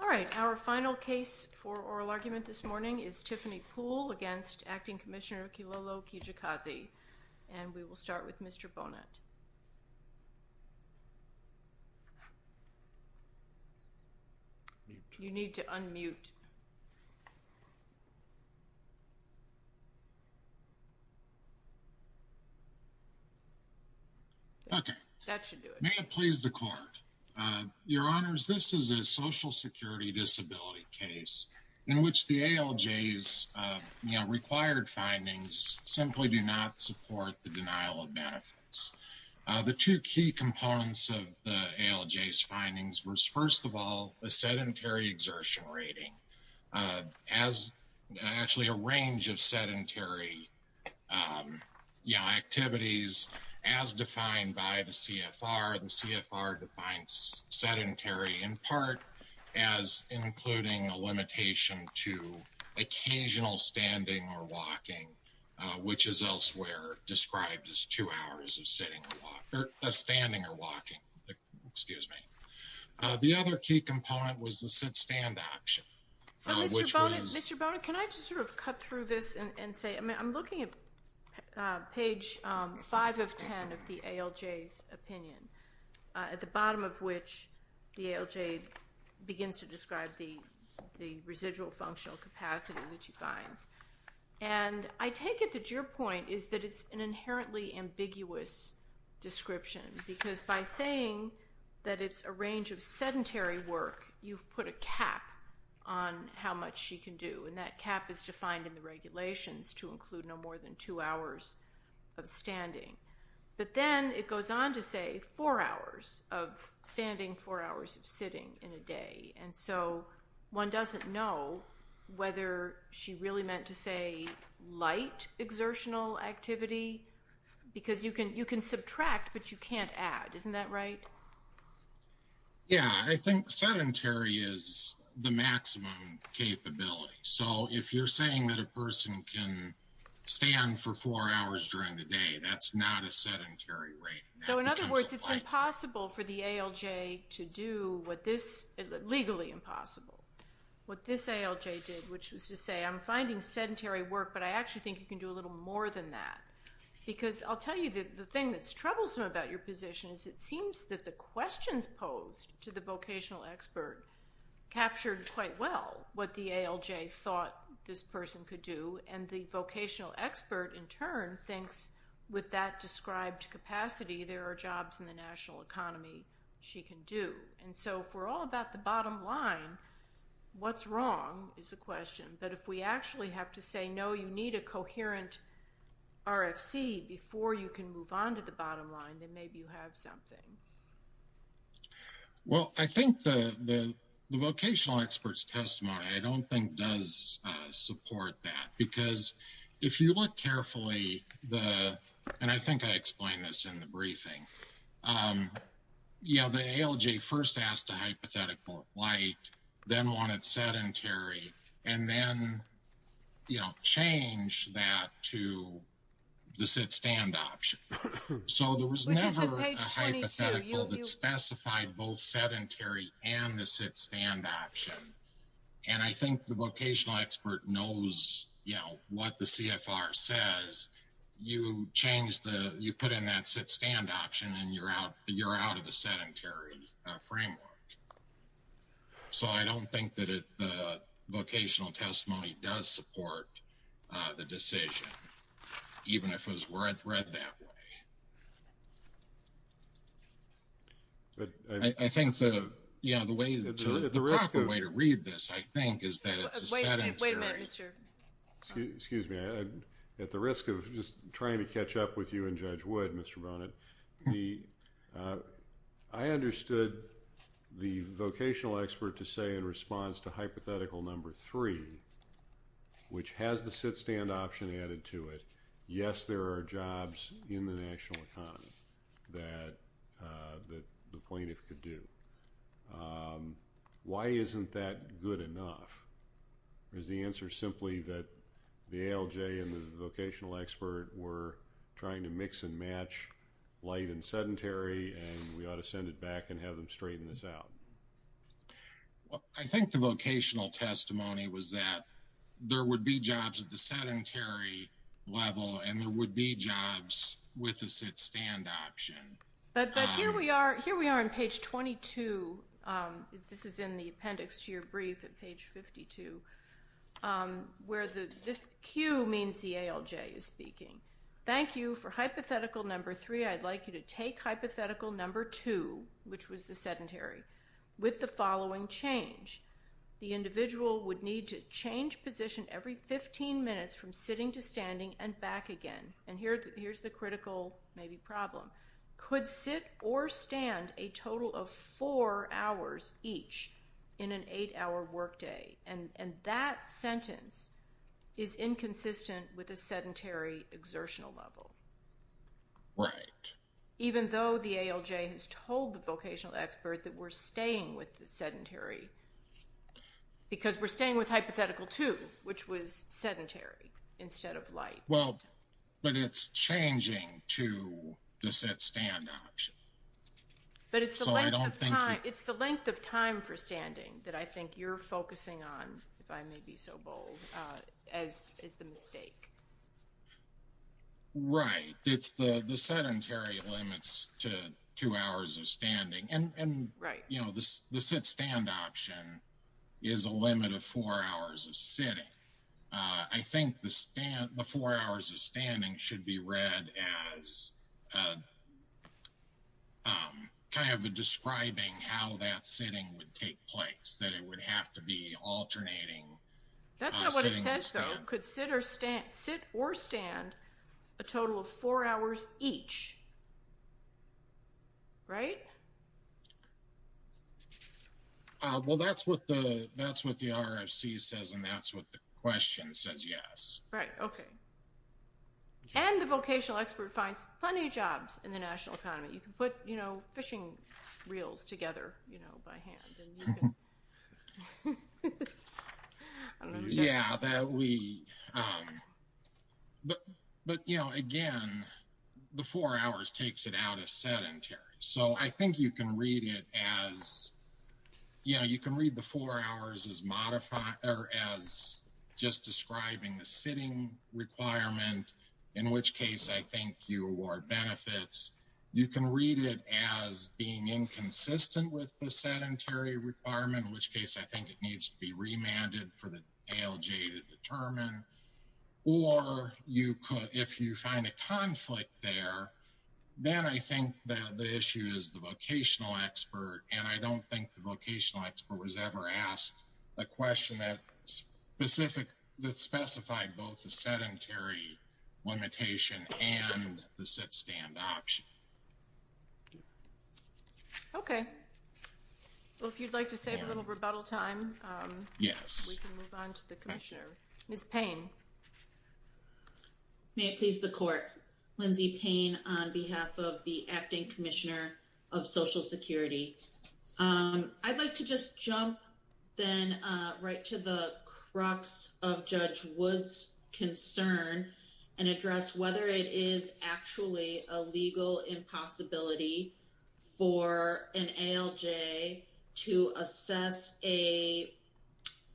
All right, our final case for oral argument this morning is Tiffany Poole against Acting Commissioner Kilolo Kijakazi and we will start with Mr. Bonet. You need to unmute. Okay, that should do it. May it please the court. Your Honors, this is a social security disability case in which the ALJ's required findings simply do not support the denial of benefits. The two key components of the ALJ's findings was first of all a sedentary exertion rating as actually a range of sedentary activities as defined by the CFR. The CFR defines sedentary in part as including a limitation to occasional standing or walking, which is elsewhere described as two hours of sitting or standing or walking. Excuse me. The other key component was the sit-stand action. Mr. Bonet, can I just sort of cut through this and say I'm looking at page 5 of 10 of the ALJ's opinion at the bottom of which the ALJ begins to describe the residual functional capacity which he finds and I take it that your point is that it's an inherently ambiguous description because by saying that it's a work, you've put a cap on how much she can do and that cap is defined in the regulations to include no more than two hours of standing. But then it goes on to say four hours of standing, four hours of sitting in a day and so one doesn't know whether she really meant to say light exertional activity because you can subtract but you can't add. Isn't that right? Yeah, I think sedentary is the maximum capability. So if you're saying that a person can stand for four hours during the day, that's not a sedentary rate. So in other words, it's impossible for the ALJ to do what this...legally impossible. What this ALJ did, which was to say I'm finding sedentary work but I actually think you can do a little more than that because I'll tell you that the thing that's troublesome about your position is it seems that the questions posed to the vocational expert captured quite well what the ALJ thought this person could do and the vocational expert in turn thinks with that described capacity there are jobs in the national economy she can do. And so if we're all about the bottom line, what's wrong is the question. But if we actually have to say no, you need a coherent RFC before you can move on to the bottom line, then maybe you have something. Well, I think the vocational expert's testimony I don't think does support that because if you look carefully, and I think I explained this in the briefing, you know, the ALJ first asked a hypothetical light, then wanted sedentary, and then, you know, changed that to the sit-stand option. So there was never a hypothetical that specified both sedentary and the sit-stand option. And I think the vocational expert knows, you know, what the CFR says. You change the, you put in that sit-stand option and you're out of the sedentary framework. So I don't think that the vocational testimony does support the decision, even if it was read that way. I think the proper way to read this, I think, is that it's a sedentary... Wait a minute, Mr. Excuse me. At the risk of just trying to catch up with you and Judge Wood, Mr. Bonnet, I understood the vocational expert to say in response to hypothetical number three, which has the sit-stand option added to it, yes, there are jobs in the national economy that the plaintiff could do. Why isn't that good enough? Or is the answer simply that the ALJ and the vocational expert were trying to mix and match light and sedentary and we ought to send it back and have them straighten this out? Well, I think the vocational testimony was that there would be jobs at the sedentary level and there would be jobs with the sit-stand option. But here we are on page 22. This is in the appendix to your brief at page 52, where this Q means the ALJ is speaking. Thank you for hypothetical number three. I'd like you to take hypothetical number two, which was the sedentary, with the following change. The individual would need to change position every 15 minutes from sitting to standing and back again. And here's the critical maybe problem. Could sit or stand a total of four hours each in an eight-hour workday? And that sentence is inconsistent with a sedentary exertional level. Right. Even though the ALJ has told the vocational expert that we're staying with the sedentary, because we're staying with hypothetical two, which was sedentary instead of light. Well, but it's changing to the sit-stand option. But it's the length of time for standing that I think you're focusing on, if I may be so bold, as the mistake. Right. It's the sedentary limits to two hours of standing. And, you know, the sit-stand option is a limit of four hours of sitting. I think the four hours of standing should be read as kind of describing how that sitting would take place, that it would have to be alternating sitting and standing. That's not what it says, though. Could sit or stand a total of four hours each? Right? Well, that's what the RFC says, and that's what the question says, yes. Right. Okay. And the vocational expert finds plenty of jobs in the national economy. You can put, you know, fishing reels together, you know, by hand. Yeah, that we – but, you know, again, the four hours takes it out as sedentary. So I think you can read it as, you know, you can read the four hours as just describing the sitting requirement, in which case I think you award benefits. You can read it as being inconsistent with the sedentary requirement, in which case I think it needs to be remanded for the ALJ to determine. Or you could, if you find a conflict there, then I think that the issue is the vocational expert. And I don't think the vocational expert was ever asked a question that specified both the sedentary limitation and the sit-stand option. Okay. Well, if you'd like to save a little rebuttal time, we can move on to the commissioner. Ms. Payne. May it please the court. Lindsay Payne on behalf of the Acting Commissioner of Social Security. I'd like to just jump then right to the crux of Judge Wood's concern and address whether it is actually a legal impossibility for an ALJ to assess a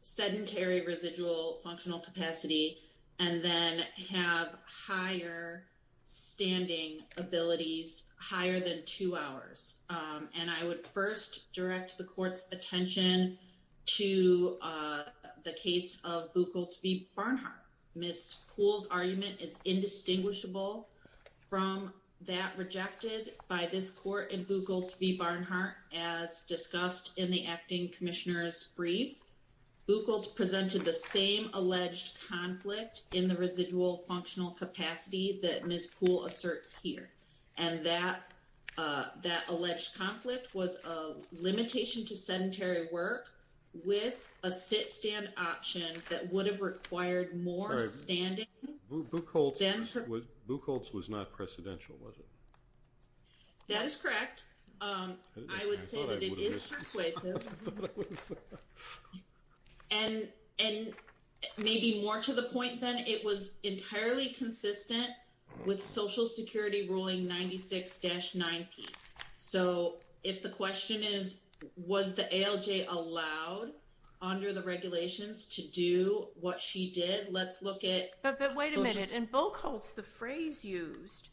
sedentary residual functional capacity and then have higher standing abilities, higher than two hours. And I would first direct the court's attention to the case of Buchholz v. Barnhart. Ms. Poole's argument is indistinguishable from that rejected by this court in Buchholz v. Barnhart, as discussed in the Acting Commissioner's brief. Buchholz presented the same alleged conflict in the residual functional capacity that Ms. Poole asserts here. And that alleged conflict was a limitation to sedentary work with a sit-stand option that would have required more standing. Sorry, Buchholz was not precedential, was it? That is correct. I would say that it is persuasive. And maybe more to the point then, it was entirely consistent with Social Security Ruling 96-9P. So if the question is, was the ALJ allowed under the regulations to do what she did, let's look at- But wait a minute. In Buchholz, the phrase used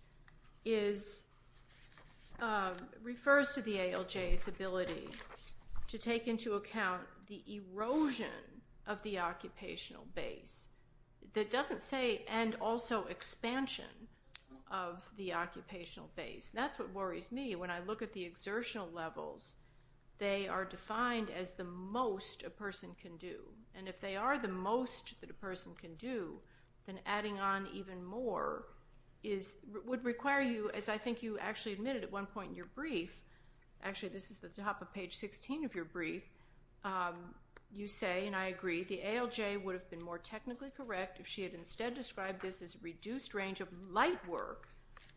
refers to the ALJ's ability to take into account the erosion of the occupational base. That doesn't say, and also expansion of the occupational base. That's what worries me. When I look at the exertional levels, they are defined as the most a person can do. And if they are the most that a person can do, then adding on even more would require you- As I think you actually admitted at one point in your brief- Actually, this is at the top of page 16 of your brief. You say, and I agree, the ALJ would have been more technically correct if she had instead described this as a reduced range of light work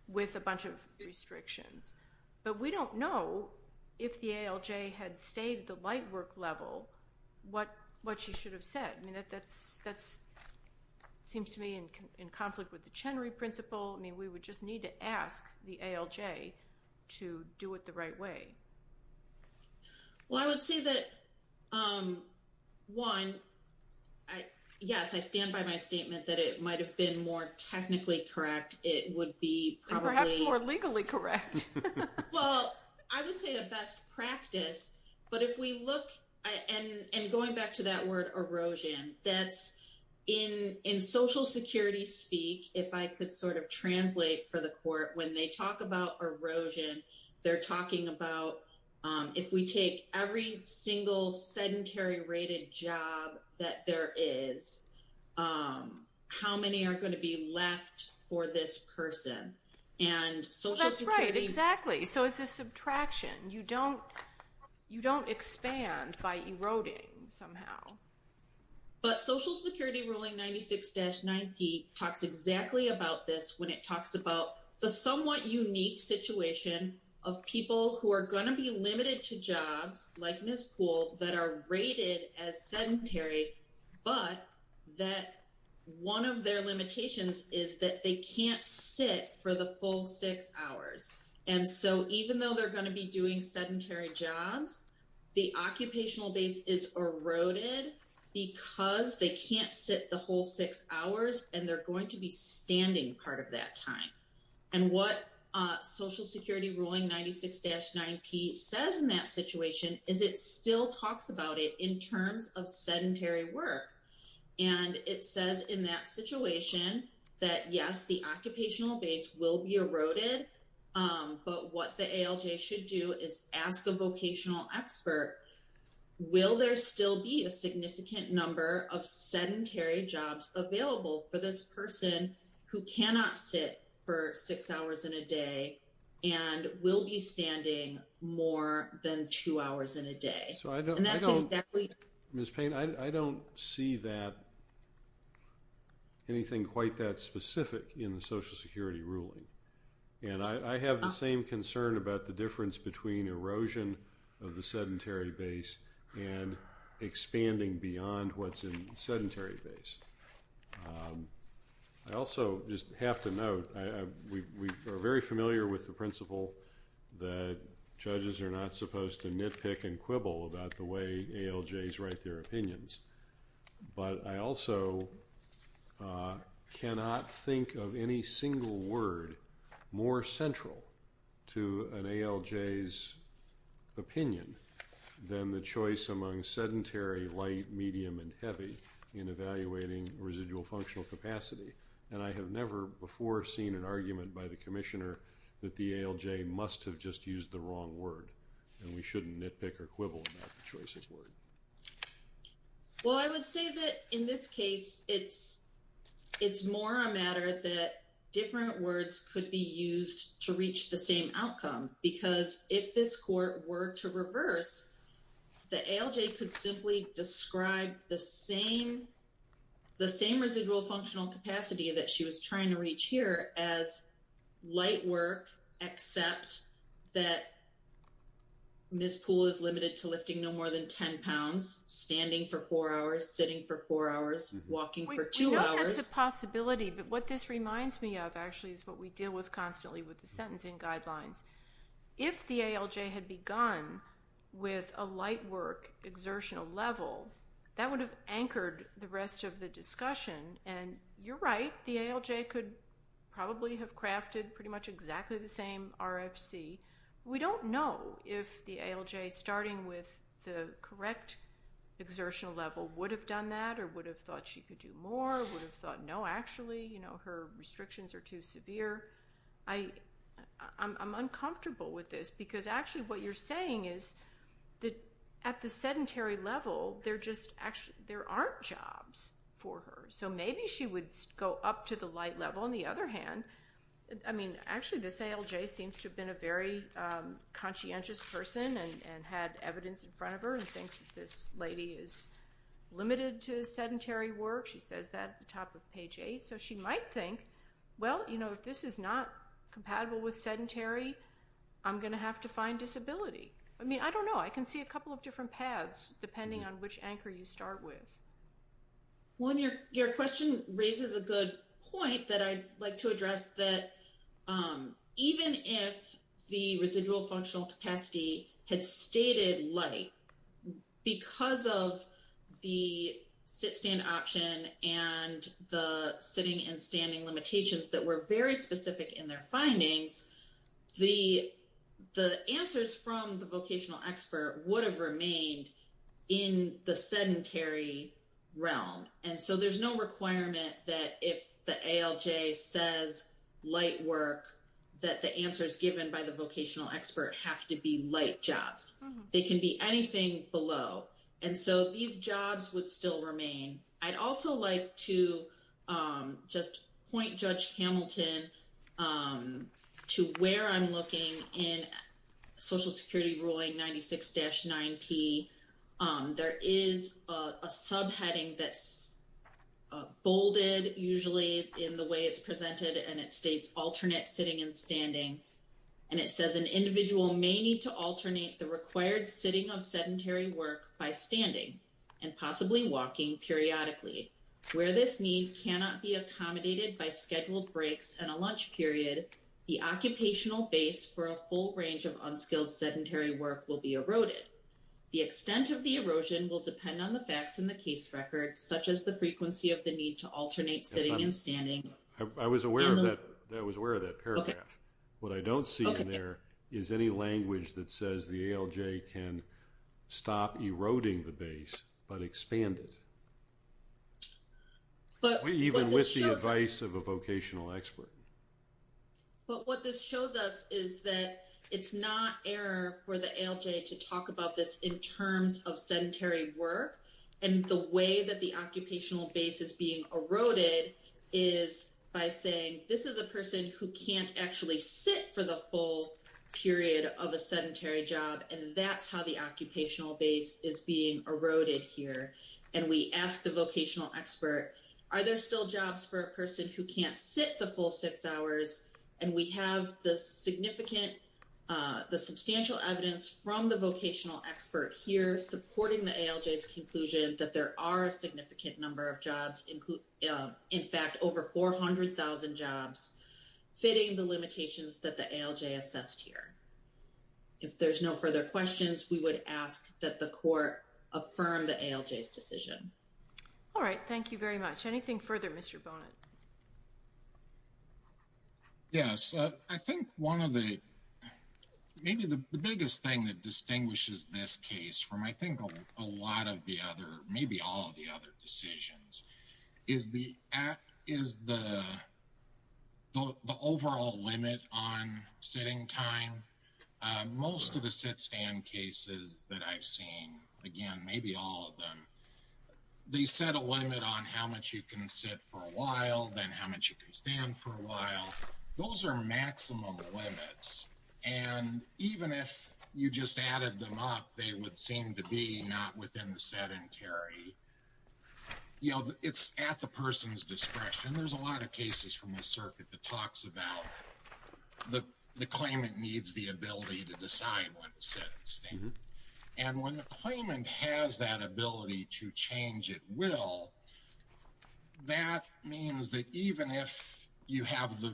with a bunch of restrictions. But we don't know if the ALJ had stayed at the light work level, what she should have said. I mean, that seems to me in conflict with the Chenery Principle. I mean, we would just need to ask the ALJ to do it the right way. Well, I would say that, one, yes, I stand by my statement that it might have been more technically correct. It would be probably- Perhaps more legally correct. Well, I would say a best practice. But if we look, and going back to that word erosion, that's in Social Security speak, if I could sort of translate for the court, when they talk about erosion, they're talking about if we take every single sedentary rated job that there is, how many are going to be left for this person? And Social Security- That's right, exactly. So it's a subtraction. You don't expand by eroding somehow. But Social Security ruling 96-90 talks exactly about this when it talks about the somewhat unique situation of people who are going to be limited to jobs, like Ms. Poole, that are rated as sedentary, but that one of their limitations is that they can't sit for the full six hours. And so even though they're going to be doing sedentary jobs, the occupational base is eroded because they can't sit the whole six hours, and they're going to be standing part of that time. And what Social Security ruling 96-90 says in that situation is it still talks about it in terms of sedentary work. And it says in that situation that, yes, the occupational base will be eroded. But what the ALJ should do is ask a vocational expert, will there still be a significant number of sedentary jobs available for this person who cannot sit for six hours in a day and will be standing more than two hours in a day? Ms. Payne, I don't see anything quite that specific in the Social Security ruling. And I have the same concern about the difference between erosion of the sedentary base and expanding beyond what's in the sedentary base. I also just have to note, we are very familiar with the principle that judges are not supposed to nitpick and quibble about the way ALJs write their opinions. But I also cannot think of any single word more central to an ALJ's opinion than the choice among sedentary, light, medium, and heavy in evaluating residual functional capacity. And I have never before seen an argument by the Commissioner that the ALJ must have just used the wrong word, and we shouldn't nitpick or quibble about the choice of word. Well, I would say that in this case, it's more a matter that different words could be used to reach the same outcome. Because if this court were to reverse, the ALJ could simply describe the same residual functional capacity that she was trying to reach here as light work, except that Ms. Poole is limited to lifting no more than 10 pounds, standing for four hours, sitting for four hours, walking for two hours. That's a possibility, but what this reminds me of, actually, is what we deal with constantly with the sentencing guidelines. If the ALJ had begun with a light work exertional level, that would have anchored the rest of the discussion. And you're right, the ALJ could probably have crafted pretty much exactly the same RFC. We don't know if the ALJ, starting with the correct exertional level, would have done that, or would have thought she could do more, would have thought no, actually. Her restrictions are too severe. I'm uncomfortable with this, because actually what you're saying is that at the sedentary level, there aren't jobs for her. So maybe she would go up to the light level. On the other hand, I mean, actually this ALJ seems to have been a very conscientious person and had evidence in front of her, and thinks that this lady is limited to sedentary work. She says that at the top of page 8. So she might think, well, you know, if this is not compatible with sedentary, I'm going to have to find disability. I mean, I don't know. I can see a couple of different paths, depending on which anchor you start with. One, your question raises a good point that I'd like to address, that even if the residual functional capacity had stated light, because of the sit-stand option and the sitting and standing limitations that were very specific in their findings, the answers from the vocational expert would have remained in the sedentary realm. And so there's no requirement that if the ALJ says light work, that the answers given by the vocational expert have to be light jobs. They can be anything below. And so these jobs would still remain. I'd also like to just point Judge Hamilton to where I'm looking in Social Security Ruling 96-9P. There is a subheading that's bolded, usually, in the way it's presented, and it states alternate sitting and standing. And it says an individual may need to alternate the required sitting of sedentary work by standing and possibly walking periodically. Where this need cannot be accommodated by scheduled breaks and a lunch period, the occupational base for a full range of unskilled sedentary work will be eroded. The extent of the erosion will depend on the facts in the case record, such as the frequency of the need to alternate sitting and standing. I was aware of that paragraph. What I don't see in there is any language that says the ALJ can stop eroding the base but expand it. Even with the advice of a vocational expert. But what this shows us is that it's not error for the ALJ to talk about this in terms of sedentary work. And the way that the occupational base is being eroded is by saying this is a person who can't actually sit for the full period of a sedentary job. And that's how the occupational base is being eroded here. And we ask the vocational expert, are there still jobs for a person who can't sit the full six hours? And we have the significant, the substantial evidence from the vocational expert here supporting the ALJ's conclusion that there are a significant number of jobs. In fact, over 400,000 jobs, fitting the limitations that the ALJ assessed here. If there's no further questions, we would ask that the court affirm the ALJ's decision. All right. Thank you very much. Anything further, Mr. Bonet? Yes. I think one of the, maybe the biggest thing that distinguishes this case from I think a lot of the other, maybe all of the other decisions, is the overall limit on sitting time. Most of the sit-stand cases that I've seen, again, maybe all of them, they set a limit on how much you can sit for a while. Then how much you can stand for a while. Those are maximum limits. And even if you just added them up, they would seem to be not within the sedentary. You know, it's at the person's discretion. There's a lot of cases from the circuit that talks about the claimant needs the ability to decide when to sit and stand. And when the claimant has that ability to change at will, that means that even if you have the,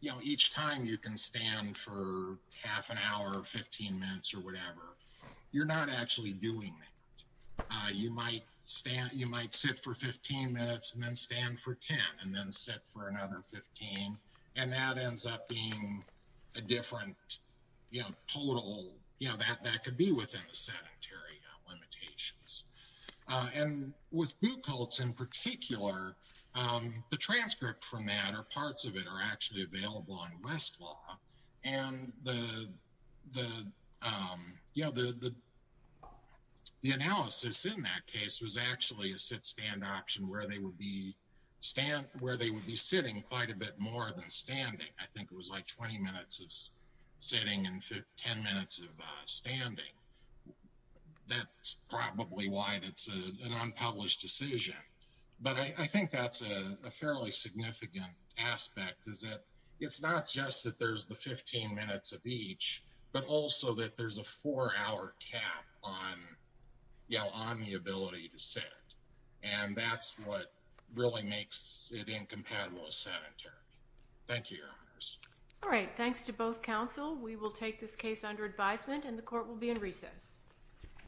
you know, each time you can stand for half an hour or 15 minutes or whatever, you're not actually doing that. You might stand, you might sit for 15 minutes and then stand for 10 and then sit for another 15. And that ends up being a different, you know, total, you know, that could be within the sedentary limitations. And with boot cults in particular, the transcript from that or parts of it are actually available on Westlaw. And the, you know, the analysis in that case was actually a sit-stand option where they would be sitting quite a bit more than standing. I think it was like 20 minutes of sitting and 10 minutes of standing. That's probably why that's an unpublished decision. But I think that's a fairly significant aspect is that it's not just that there's the 15 minutes of each, but also that there's a four hour cap on, you know, on the ability to sit. And that's what really makes it incompatible with sedentary. Thank you, Your Honors. All right. Thanks to both counsel. We will take this case under advisement and the court will be in recess.